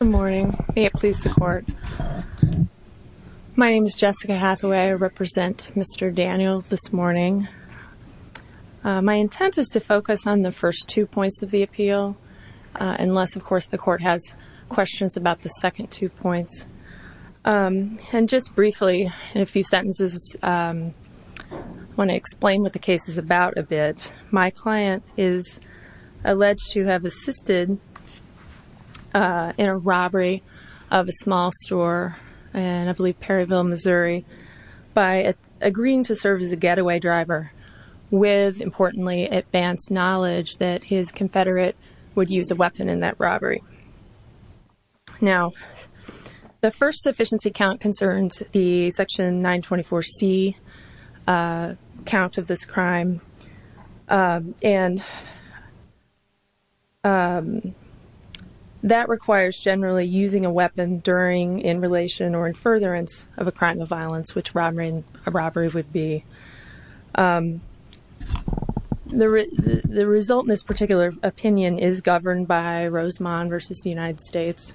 Good morning. May it please the court. My name is Jessica Hathaway. I represent Mr. Daniel this morning. My intent is to focus on the first two points of the appeal, unless of course the court has questions about the second two points. And just briefly, in a to explain what the case is about a bit. My client is alleged to have assisted in a robbery of a small store in I believe Perryville, Missouri, by agreeing to serve as a getaway driver with, importantly, advanced knowledge that his confederate would use a weapon in that robbery. Now, the first sufficiency count concerns the section 924c count of this crime, and that requires generally using a weapon during, in relation, or in furtherance of a crime of violence, which robbery would be. The result in this particular opinion is governed by Rosemond v. United States,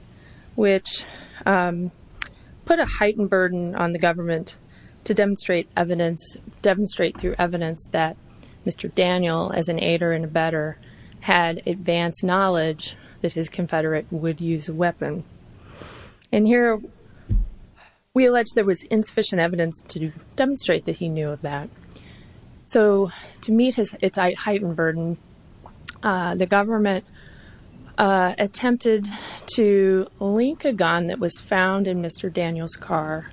which put a heightened burden on the government to demonstrate evidence, demonstrate through evidence, that Mr. Daniel, as an aider and abetter, had advanced knowledge that his confederate would use a weapon. And here we allege there was insufficient evidence to demonstrate that he knew of that. So to meet his heightened burden, the government attempted to link a gun that was found in Mr. Daniel's car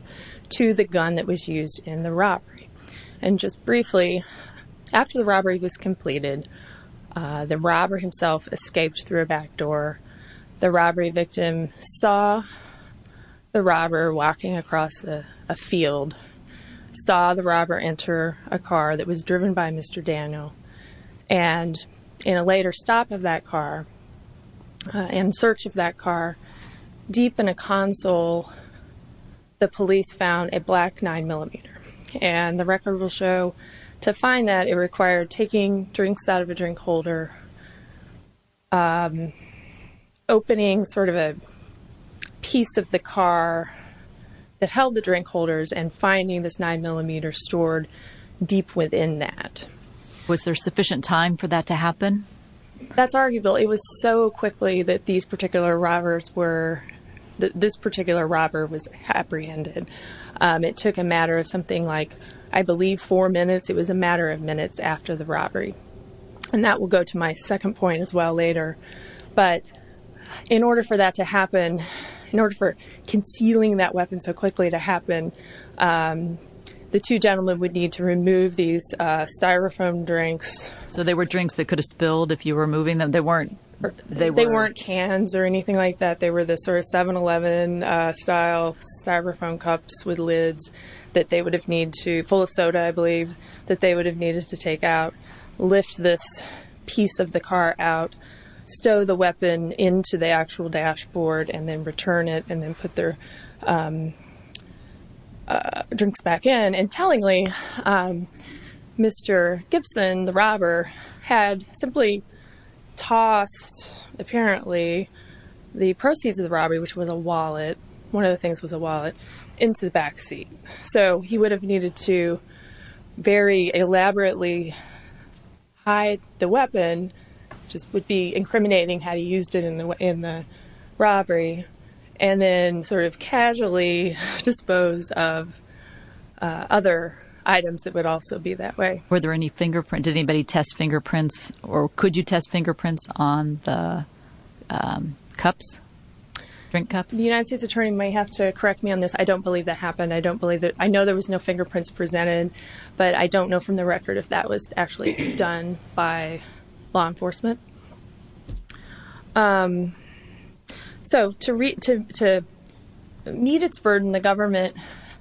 to the gun that was used in the robbery. And just briefly, after the robbery was completed, the robber himself escaped through a back door. The robbery victim saw the robber walking across a field, saw the robber enter a car, and in search of that car, deep in a console, the police found a black 9-millimeter. And the record will show to find that it required taking drinks out of a drink holder, opening sort of a piece of the car that held the drink holders, and finding this 9-millimeter stored deep within that. Was there sufficient time for that to happen? That's arguable. It was so quickly that these particular robbers were, that this particular robber was apprehended. It took a matter of something like, I believe, four minutes. It was a matter of minutes after the robbery. And that will go to my second point as well later. But in order for that to happen, in order for concealing that weapon so quickly to happen, the two gentlemen would need to remove these styrofoam drinks. So they were drinks that could have spilled if you were moving them? They weren't? They weren't cans or anything like that. They were the sort of 7-Eleven style styrofoam cups with lids that they would have need to, full of soda, I believe, that they would have needed to take out, lift this piece of the car out, stow the weapon into the actual dashboard, and then return it, and then put their drinks back in. And tellingly, Mr. Gibson, the robber, had simply tossed, apparently, the proceeds of the robbery, which was a wallet, one of the things was a wallet, into the backseat. So he would have needed to very elaborately hide the weapon, which would be incriminating had he used it in the robbery, and then sort of casually dispose of other items that would also be that way. Were there any fingerprints? Did anybody test fingerprints? Or could you test fingerprints on the cups, drink cups? The United States Attorney might have to correct me on this. I don't believe that happened. I don't believe that. I know there was no fingerprints presented. But I don't know from the record if that was actually done by law enforcement. So to meet its burden, the government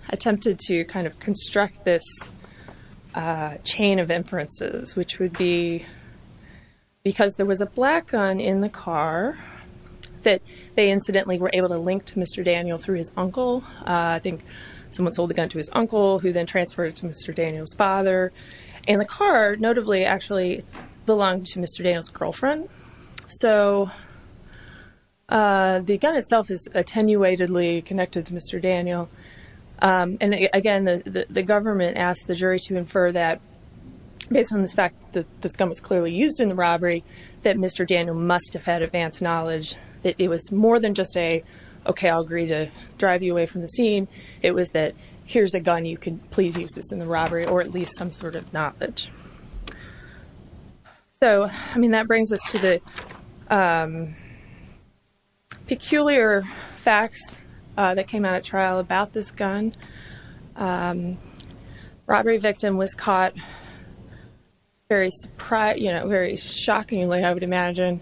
attempted to kind of construct this chain of inferences, which would be because there was a black gun in the car, that they incidentally were able to link to Mr. Daniel through his uncle. I think someone sold the gun to his father. And the car, notably, actually belonged to Mr. Daniel's girlfriend. So the gun itself is attenuatedly connected to Mr. Daniel. And again, the government asked the jury to infer that, based on the fact that this gun was clearly used in the robbery, that Mr. Daniel must have had advanced knowledge, that it was more than just a, okay, I'll agree to drive you away from the scene. It was that here's a gun, you can please use this in the robbery, or at least some sort of knowledge. So, I mean, that brings us to the peculiar facts that came out at trial about this gun. Robbery victim was caught very surprised, you know, very shockingly, I would imagine,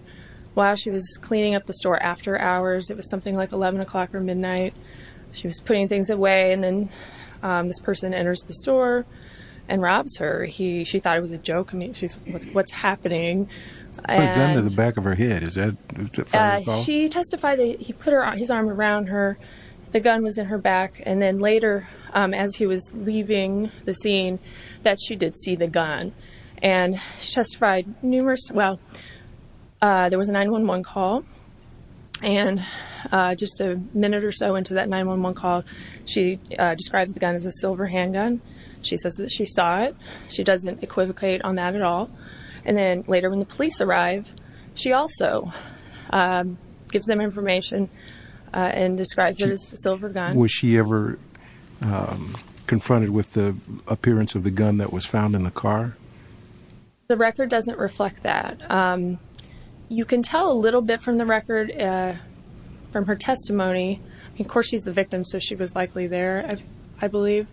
while she was cleaning up the store after hours, it was something like 11 o'clock or midnight. She was putting things away. And then this person enters the store and robs her. She thought it was a joke. I mean, she's like, what's happening? Put a gun to the back of her head, is that what you're calling? She testified that he put his arm around her, the gun was in her back. And then later, as he was leaving the scene, that she did see the gun. And she testified numerous, well, there was a 911 call. And just a minute or so into that 911 call, she describes the gun as a silver handgun. She says that she saw it. She doesn't equivocate on that at all. And then later, when the police arrive, she also gives them information and describes it as a silver gun. Was she ever confronted with the appearance of the gun that was found in the car? The record doesn't reflect that. You can tell a little bit from the record, from her testimony. Of course, she's the victim. So she was likely there, I believe.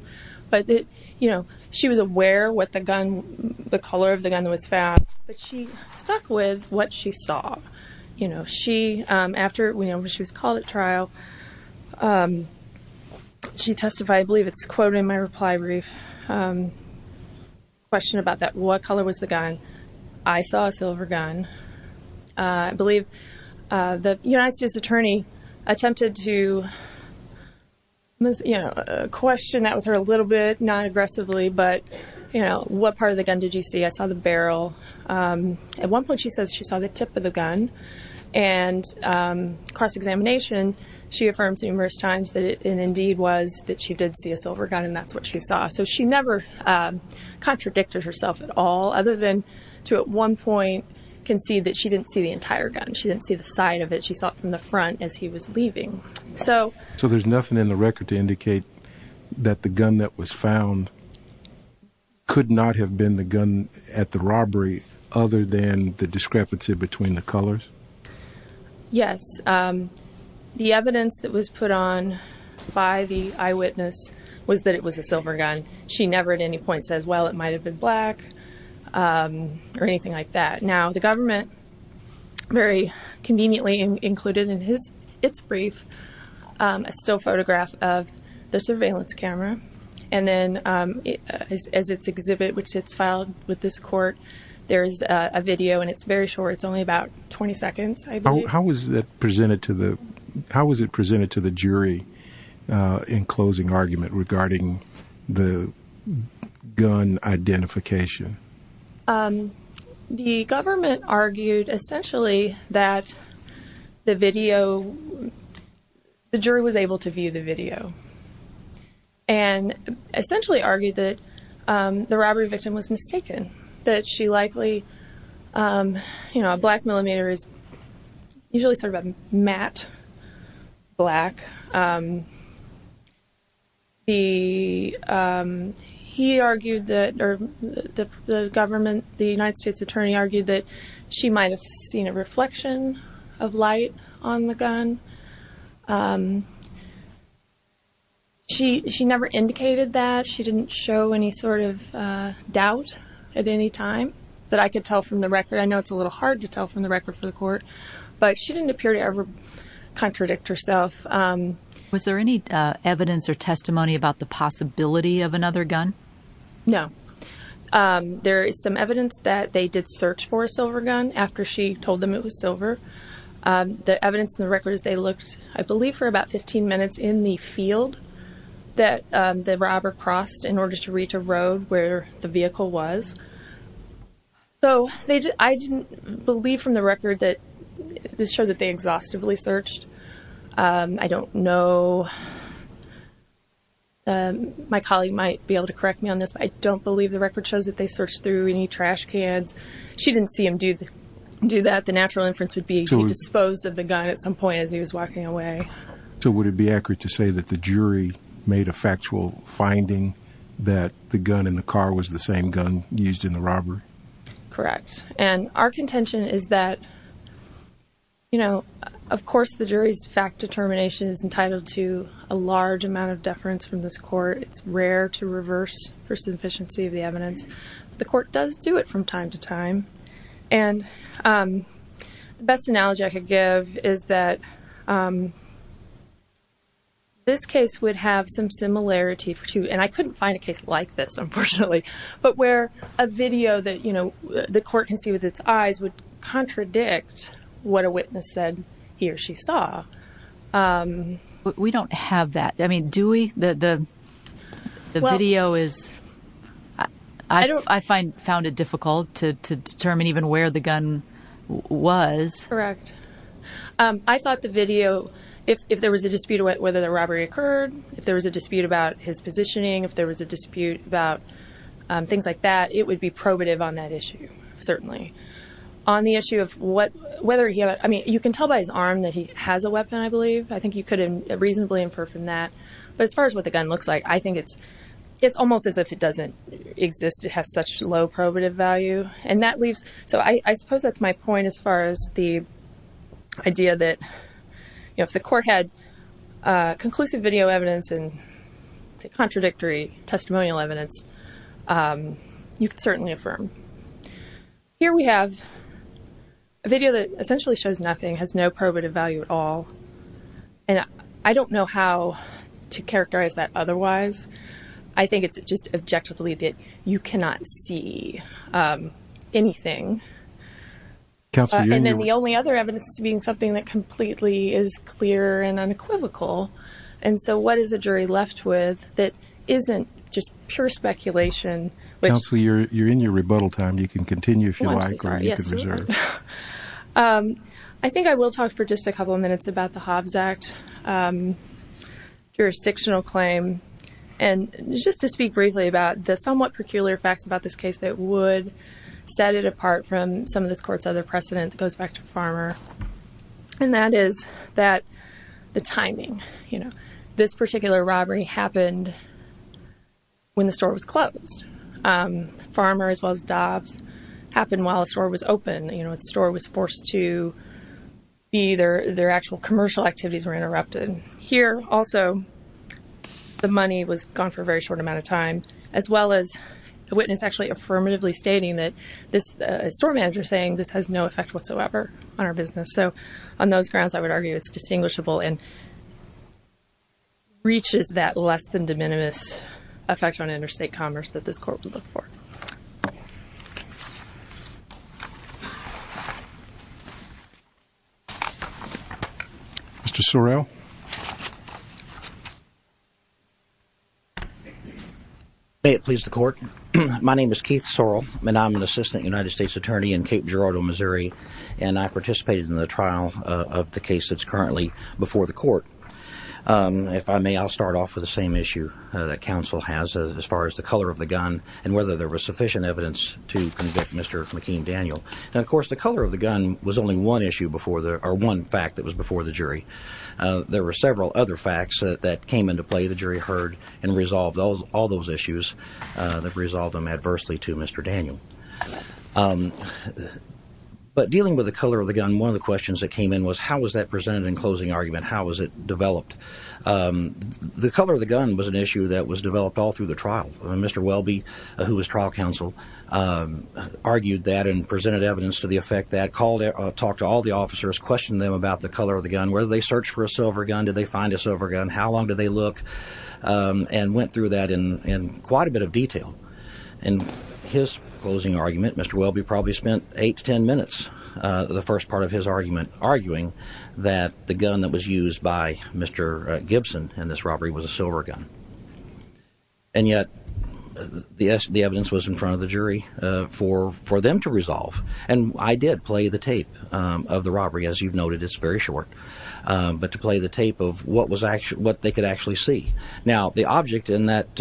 But it, you know, she was aware what the gun, the color of the gun was found, but she stuck with what she saw. You know, she, after she was called at trial, she testified, I believe it's quoted in my reply brief, question about that, what color was the gun? I saw a silver gun. I believe the United States attorney attempted to, you know, question that with her a little bit, not aggressively, but, you know, what part of the gun did you see? I saw the barrel. At one point, she says she saw the tip of the gun. And across examination, she affirms numerous times that it indeed was that she did see a silver gun. And that's what she saw. So she never contradicted herself at all, other than to at one point, concede that she didn't see the entire gun. She didn't see the side of it. She saw it from the front as he was leaving. So, so there's nothing in the record to indicate that the gun that was found could not have been the gun at the robbery, other than the discrepancy between the colors. Yes. The evidence that was put on by the eyewitness was that it was a silver gun. She never at any point says, well, it still photograph of the surveillance camera. And then as its exhibit, which it's filed with this court, there's a video and it's very short. It's only about 20 seconds. How was that presented to the how was it presented to the jury in closing argument regarding the gun identification? Um, the government argued essentially that the video, the jury was able to view the video and essentially argued that the robbery victim was mistaken, that she likely, you know, a black millimeter is usually sort of a matte black. The he argued that the government, the United States attorney argued that she might've seen a reflection of light on the gun. Um, she, she never indicated that she didn't show any sort of, uh, doubt at any time that I could tell from the record. I know it's a little hard to tell from the record for the court, but she didn't appear to ever contradict herself. Um, was there any, uh, evidence or testimony about the possibility of another gun? No. Um, there is some evidence that they did search for a silver gun after she told them it was silver. Um, the evidence in the records, they looked, I believe for about 15 minutes in the field that, um, the robber crossed in order to reach a road where the vehicle was. So they, I didn't believe from the record that this showed that they exhaustively searched. Um, I don't know. Um, my colleague might be able to correct me on this, but I don't believe the record shows that they searched through any trash cans. She didn't see him do the, do that. The natural inference would be disposed of the gun at some point as he was walking away. So would it be accurate to say that the jury made a factual finding that the gun in the car was the same gun used in the robbery? Correct. And our contention is that, you know, of course the jury's fact determination is entitled to a large amount of deference from this court. It's rare to reverse for sufficiency of the evidence. The court does do it from time to time. And, um, the best analogy I could give is that, um, this case would have some similarity to, and I couldn't find a case like this, unfortunately, but where a video that, you know, the court can see with its eyes would contradict what a witness said he or she saw. Um, we don't have that. I mean, do we, the, the, the video is, I don't, I find, found it difficult to, to determine even where the gun was. Correct. Um, I thought the video, if, if there was a dispute about whether the robbery occurred, if there was a dispute about his positioning, if there was a dispute about, um, things like that, it would be probative on that issue. Certainly. On the issue of what, whether he had, I mean, you can tell by his arm that he has a weapon, I believe. I think you could reasonably infer from that. But as far as what the gun looks like, I think it's, it's almost as if it doesn't exist. It has such low probative value and that leaves. So I suppose that's my point as far as the idea that, you know, if the court had, uh, conclusive video evidence and contradictory testimonial evidence, um, you could certainly affirm. Here we have a video that essentially shows nothing, has no probative value at all. And I don't know how to characterize that. Otherwise, I think it's just objectively that you cannot see, um, anything. And then the only other evidence is being something that completely is I think I will talk for just a couple of minutes about the Hobbs Act, um, jurisdictional claim. And just to speak briefly about the somewhat peculiar facts about this case that would set it apart from some of this court's other precedent that goes back to Farmer. And that is that the timing, you know, this was Dobbs happened while the store was open. You know, the store was forced to be there. Their actual commercial activities were interrupted here. Also, the money was gone for a very short amount of time, as well as the witness actually affirmatively stating that this store manager saying this has no effect whatsoever on our business. So on those grounds, I would argue it's distinguishable and reaches that less than de minimis effect on interstate commerce that this court would look for. Mr. Sorrell. May it please the court. My name is Keith Sorrell, and I'm an assistant United States attorney in Cape Girardeau, Missouri, and I participated in the trial of the case that's currently before the court. Um, if I may, I'll start off with the same issue that council has as far as the color of the gun and whether there was sufficient evidence to convict Mr. McKean. Daniel. And of course, the color of the gun was only one issue before there are one fact that was before the jury. There were several other facts that came into play. The jury heard and resolved all those issues that resolved them adversely to Mr. Daniel, but dealing with the color of the gun. One of the questions that came in was how was that presented in closing argument? How was it developed? The color of the gun was an issue that was developed all through the trial. Mr. Welby, who was trial counsel, argued that and presented evidence to the effect that called it. Talk to all the officers, questioned them about the color of the gun, whether they search for a silver gun. Did they find a silver gun? How long did they look and went through that in quite a bit of detail? And his closing argument, Mr. Welby probably spent 8 to 10 minutes. The first part of his argument arguing that the gun that was used by Mr Gibson and this robbery was a silver gun. And yet the evidence was in front of the jury for for them to resolve. And I did play the tape of the robbery. As you've noted, it's very short, but to play the tape of what was actually what they could actually see. Now, the object in that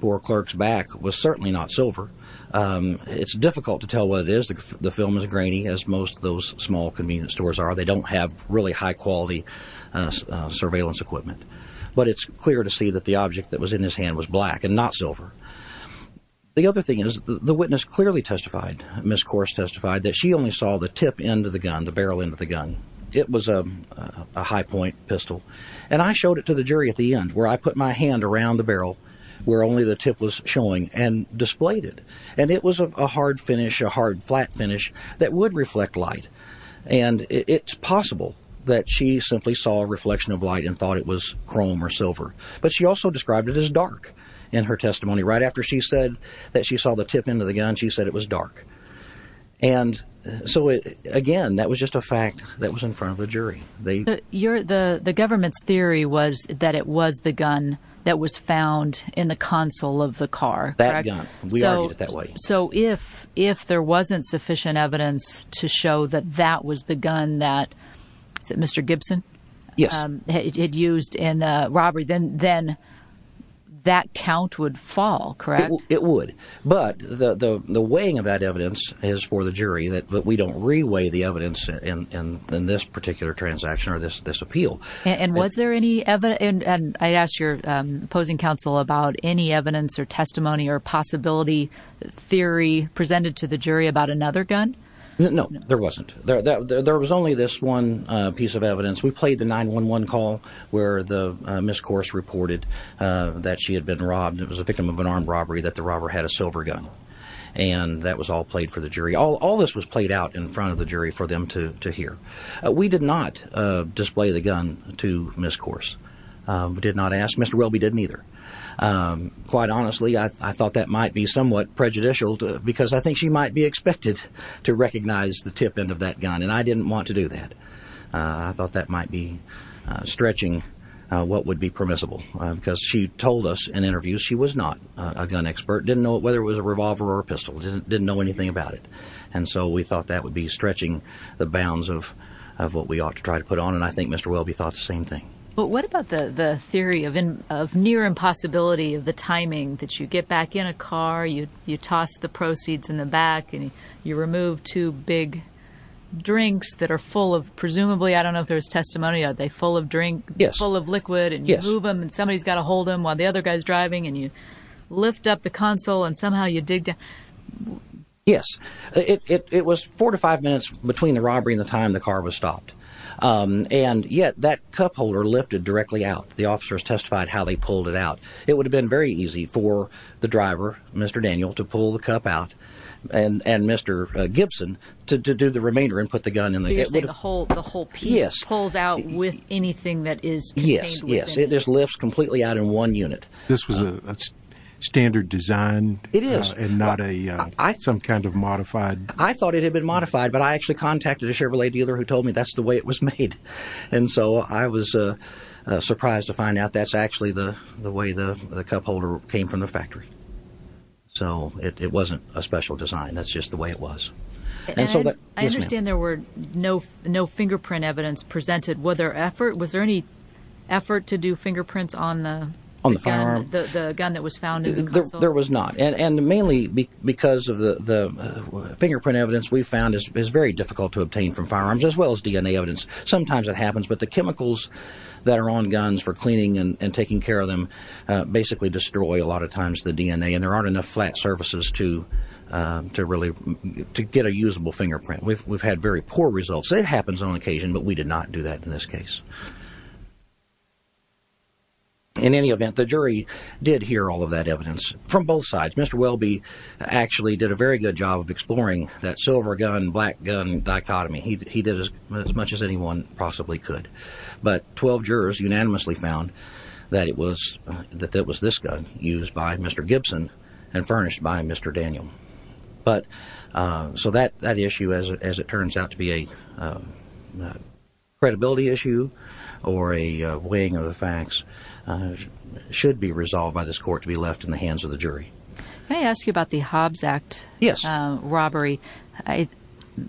poor clerk's back was certainly not silver. It's difficult to tell what it is. The film is grainy, as most of those small convenience stores are. They don't have really high quality surveillance equipment. But it's clear to see that the object that was in his hand was black and not silver. The other thing is the witness clearly testified. Miss Course testified that she only saw the tip end of the gun, the barrel end of the gun. It was a high point pistol. And I showed it to the jury at the end where I put my hand around the barrel where only the tip was showing and displayed it. And it was a hard finish, a hard, flat finish that would reflect light. And it's possible that she simply saw a reflection of light and thought it was chrome or silver. But she also described it as dark in her testimony right after she said that she saw the tip end of the gun. She said it was dark. And so, again, that was just a fact that was in front of the jury. The government's theory was that it was the gun that was found in the console of the car. That gun. We argued it that way. So if if there wasn't sufficient evidence to show that that was the gun that Mr. Gibson had used in a robbery, then then that count would fall, correct? It would. But the weighing of that evidence is for the jury that we don't reweigh the evidence in this particular transaction or this appeal. And was there any evidence? And I asked your opposing counsel about any evidence or testimony or possibility theory presented to the jury about another gun. No, there wasn't. There was only this one piece of evidence. We played the 9-1-1 call where the miscourse reported that she had been robbed. It was a victim of an armed robbery that the robber had a silver gun. And that was all played for the jury. All this was played out in front of the jury for them to hear. We did not display the gun to miscourse, did not ask Mr. Welby, didn't either. Quite honestly, I thought that might be somewhat prejudicial because I think she might be expected to recognize the tip end of that gun. And I didn't want to do that. I thought that might be stretching what would be permissible because she told us in interviews she was not a gun expert, didn't know whether it was a revolver or a pistol, didn't know anything about it. And so we thought that would be stretching the bounds of what we ought to try to put on. And I think Mr. Welby thought the same thing. But what about the theory of near impossibility of the timing that you get back in a car, you toss the proceeds in the back and you remove two big drinks that are full of presumably, I don't know if there's testimony, are they full of drink? Yes. Full of liquid. And you move them and somebody's got to hold them while the other guy's driving and you lift up the console and somehow you dig down. Yes. It was four to five minutes between the robbery and the time the car was stopped. And yet that cup holder lifted directly out. The officers testified how they pulled it out. It would have been very easy for the driver, Mr. Daniel, to pull the cup out and Mr. Gibson to do the remainder and put the gun in the hole. The whole piece pulls out with anything that is. Yes. Yes. It just lifts completely out in one unit. This was a standard design. It is not a some kind of modified. I thought it had been modified, but I actually contacted a Chevrolet dealer who told me that's the way it was made. And so I was surprised to find out that's actually the the way the cup holder came from the factory. So it wasn't a special design, that's just the way it was. And so I understand there were no no fingerprint evidence presented. Were there effort? Was there any effort to do fingerprints on the gun that was found? There was not. And mainly because of the fingerprint evidence we found is very difficult to obtain from firearms as well as DNA evidence. Sometimes it happens, but the chemicals that are on guns for cleaning and taking care of them basically destroy a lot of times the DNA. And there aren't enough flat surfaces to to really to get a usable fingerprint. We've had very poor results. It happens on occasion, but we did not do that in this case. In any event, the jury did hear all of that evidence from both sides. Mr. Welby actually did a very good job of exploring that silver gun, black gun dichotomy. He did as much as anyone possibly could. But 12 jurors unanimously found that it was that that was this gun used by Mr. Gibson and furnished by Mr. Daniel. But so that that issue, as it turns out, to be a credibility issue. Or a weighing of the facts should be resolved by this court to be left in the hands of the jury. Can I ask you about the Hobbs Act robbery?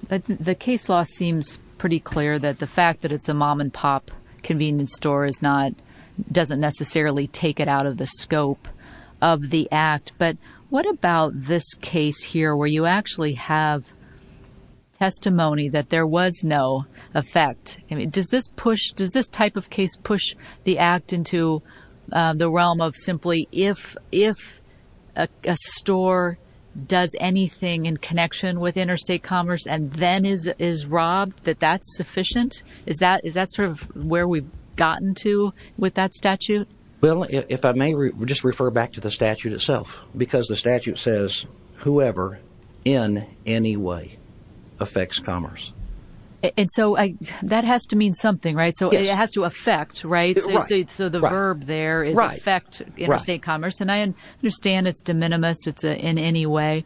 But the case law seems pretty clear that the fact that it's a mom and pop convenience store is not doesn't necessarily take it out of the scope of the act. But what about this case here where you actually have testimony that there was no effect? I mean, does this push does this type of case push the act into the realm of simply if if a store does anything in connection with interstate commerce and then is is robbed, that that's sufficient? Is that is that sort of where we've gotten to with that statute? Well, if I may just refer back to the statute itself, because the statute says whoever in any way affects commerce. And so that has to mean something. Right. So it has to affect. Right. So the verb there is affect interstate commerce. And I understand it's de minimis. It's in any way.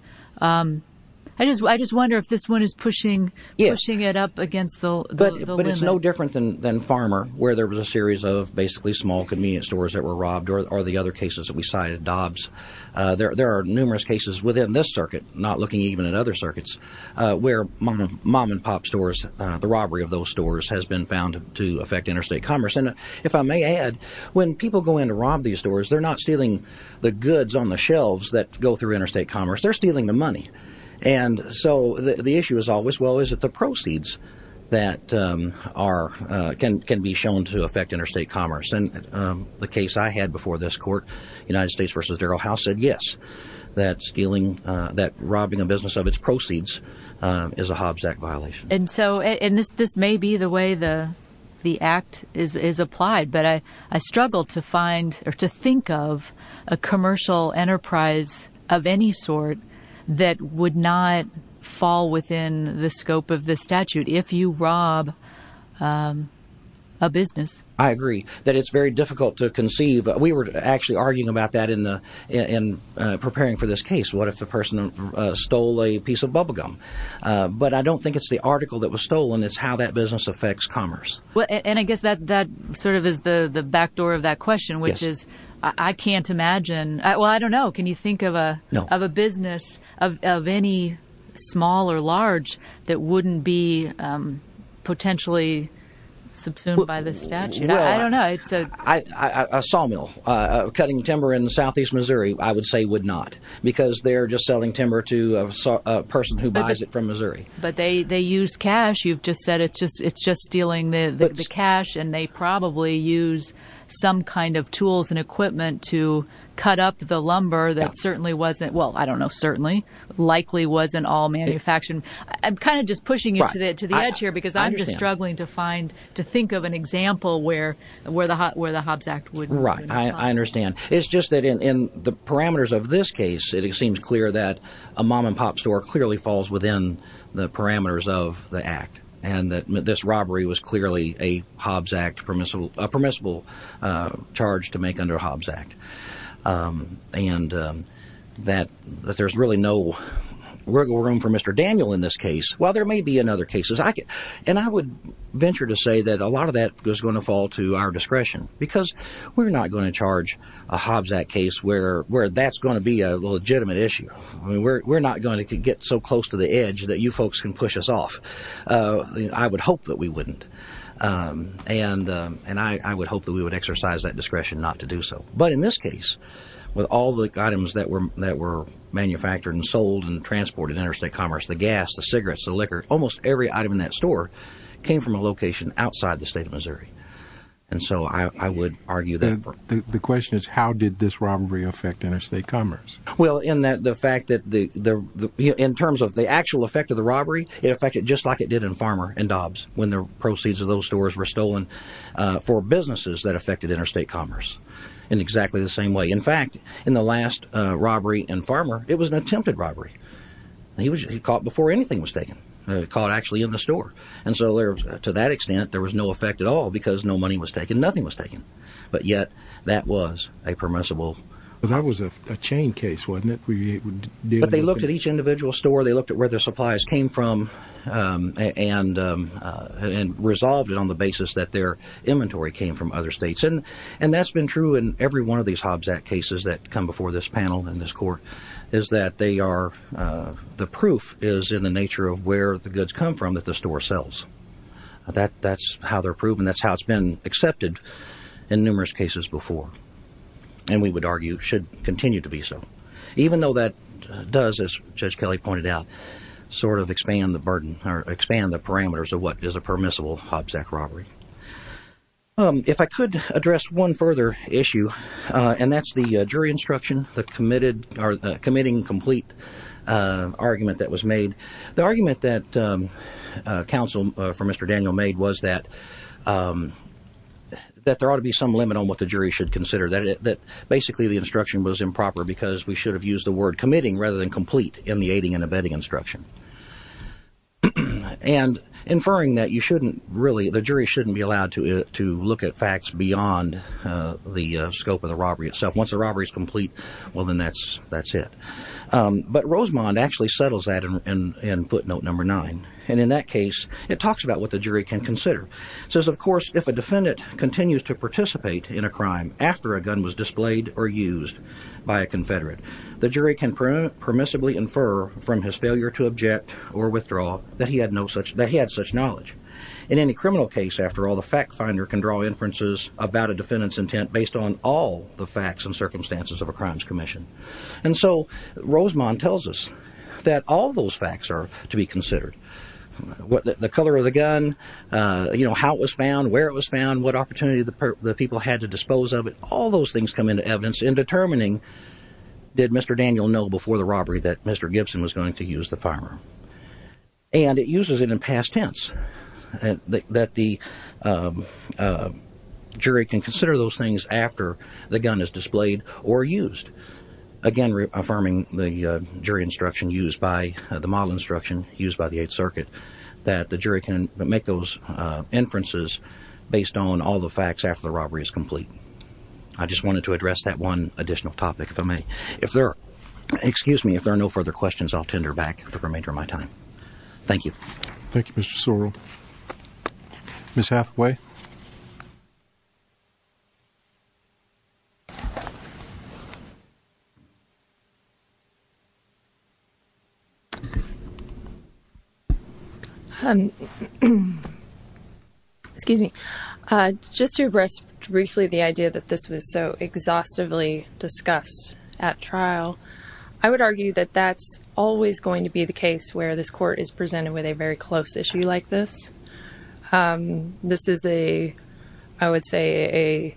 I just I just wonder if this one is pushing, pushing it up against the limit. But it's no different than Farmer, where there was a series of basically small convenience stores that were robbed or the other cases that we cited, Dobbs. There are numerous cases within this circuit, not looking even at other circuits where mom and pop stores, the robbery of those stores has been found to affect interstate commerce. And if I may add, when people go in to rob these stores, they're not stealing the goods on the shelves that go through interstate commerce. They're stealing the money. And so the issue is always, well, is it the proceeds that are can can be shown to affect interstate commerce? And the case I had before this court, United States versus Darryl House, said, yes, that stealing that robbing a business of its proceeds is a Hobbs Act violation. And so and this this may be the way the the act is applied. But I struggle to find or to think of a commercial enterprise of any sort that would not fall within the scope of the statute if you rob a business. I agree that it's very difficult to conceive. We were actually arguing about that in the in preparing for this case. What if the person stole a piece of bubble gum? But I don't think it's the article that was stolen. It's how that business affects commerce. And I guess that that sort of is the back door of that question, which is I can't imagine. Well, I don't know. Can you think of a of a business of any small or large that wouldn't be potentially subsumed by the statute? I don't know. It's a sawmill cutting timber in southeast Missouri. I would say would not because they're just selling timber to a person who buys it from Missouri. But they they use cash. You've just said it's just it's just stealing the cash and they probably use some kind of tools and equipment to cut up the lumber that certainly wasn't. Well, I don't know. Certainly likely wasn't all manufactured. I'm kind of just pushing it to the edge here because I'm just struggling to find to think of an example where where the where the Hobbs Act would. Right. I understand. It's just that in the parameters of this case, it seems clear that a mom and pop store clearly falls within the parameters of the act and that this robbery was clearly a Hobbs Act permissible, a permissible charge to make under Hobbs Act and that there's really no room for Mr. Daniel in this case, while there may be in other cases. And I would venture to say that a lot of that is going to fall to our discretion because we're not going to charge a Hobbs Act case where where that's going to be a legitimate issue. I mean, we're not going to get so close to the edge that you folks can push us off. I would hope that we wouldn't. And and I would hope that we would exercise that discretion not to do so. But in this case, with all the items that were that were manufactured and sold and transported interstate commerce, the gas, the cigarettes, the liquor, almost every item in that store came from a location outside the state of Missouri. And so I would argue that the question is, how did this robbery affect interstate commerce? Well, in that the fact that the in terms of the actual effect of the robbery, it affected just like it did in Farmer and Dobbs. When the proceeds of those stores were stolen for businesses that affected interstate commerce. In exactly the same way, in fact, in the last robbery and farmer, it was an attempted robbery. He was caught before anything was taken, caught actually in the store. And so to that extent, there was no effect at all because no money was taken. Nothing was taken. But yet that was a permissible. That was a chain case, wasn't it? But they looked at each individual store. They looked at where their supplies came from and and resolved it on the basis that their inventory came from other states. And and that's been true in every one of these Hobbs at cases that come before this panel. And this court is that they are. The proof is in the nature of where the goods come from that the store sells that that's how they're proven. That's how it's been accepted in numerous cases before. And we would argue should continue to be so, even though that does, as Judge Kelly pointed out, sort of expand the burden or expand the parameters of what is a permissible Hobbs at robbery. If I could address one further issue and that's the jury instruction, the committed or the committing complete argument that was made, the argument that counsel for Mr. Daniel made was that that there ought to be some limit on what the jury should consider that basically the instruction was improper because we should have used the word committing rather than complete in the aiding and abetting instruction. And inferring that you shouldn't really, the jury shouldn't be allowed to to look at facts beyond the scope of the robbery itself. Once the robbery is complete, well, then that's that's it. But Rosemond actually settles that in footnote number nine. And in that case, it talks about what the jury can consider says, of course, if a defendant continues to participate in a crime after a gun was displayed or used by a Confederate, the jury can permissibly infer from his failure to object or withdraw that he had no such that he had such knowledge in any criminal case. After all, the fact finder can draw inferences about a defendant's intent based on all the facts and circumstances of a crimes commission. And so Rosemond tells us that all those facts are to be considered what the color of the gun, how it was found, where it was found, what opportunity the people had to dispose of it. All those things come into evidence in determining, did Mr. Daniel know before the robbery that Mr. Gibson was going to use the farmer? And it uses it in past tense, that the jury can consider those things after the gun is displayed or used. Again, affirming the jury instruction used by the model instruction used by the Eighth Circuit, that the jury can make those inferences based on all the facts after the robbery is complete. I just wanted to address that one additional topic, if I may. If there are, excuse me, if there are no further questions, I'll tender back for the remainder of my time. Thank you. Thank you, Mr. Sorrell. Ms. Hathaway? Excuse me. Just to address briefly the idea that this was so exhaustively discussed at trial, I would argue that that's always going to be the case where this court is presented with a very close issue like this. This is a, I would say,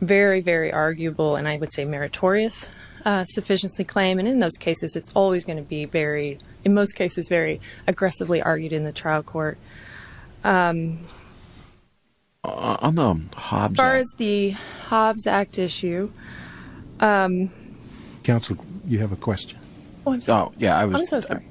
a very, very arguable, and I would say meritorious, sufficiency claim. And in those cases, it's always going to be very, in most cases, very aggressively argued in the trial court. On the Hobbs Act? As far as the Hobbs Act issue... Counsel, you have a question? Yeah, I was... I'm so sorry.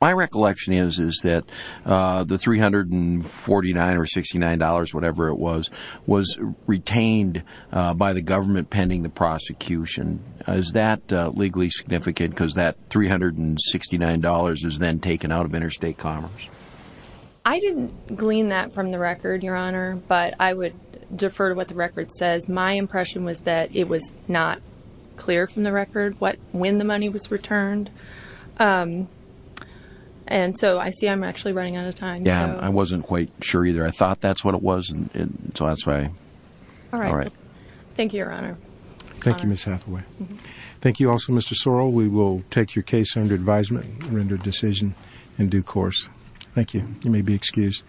My recollection is that the $349 or $69, whatever it was, was retained by the government pending the prosecution. Is that legally significant because that $369 is then taken out of interstate commerce? I didn't glean that from the record, Your Honor, but I would defer to what the record says. My impression was that it was not clear from the record when the money was returned. And so I see I'm actually running out of time. Yeah, I wasn't quite sure either. I thought that's what it was, and so that's why... All right. Thank you, Your Honor. Thank you, Ms. Hathaway. Thank you also, Mr. Sorrell. We will take your case under advisement, render decision in due course. Thank you. You may be excused.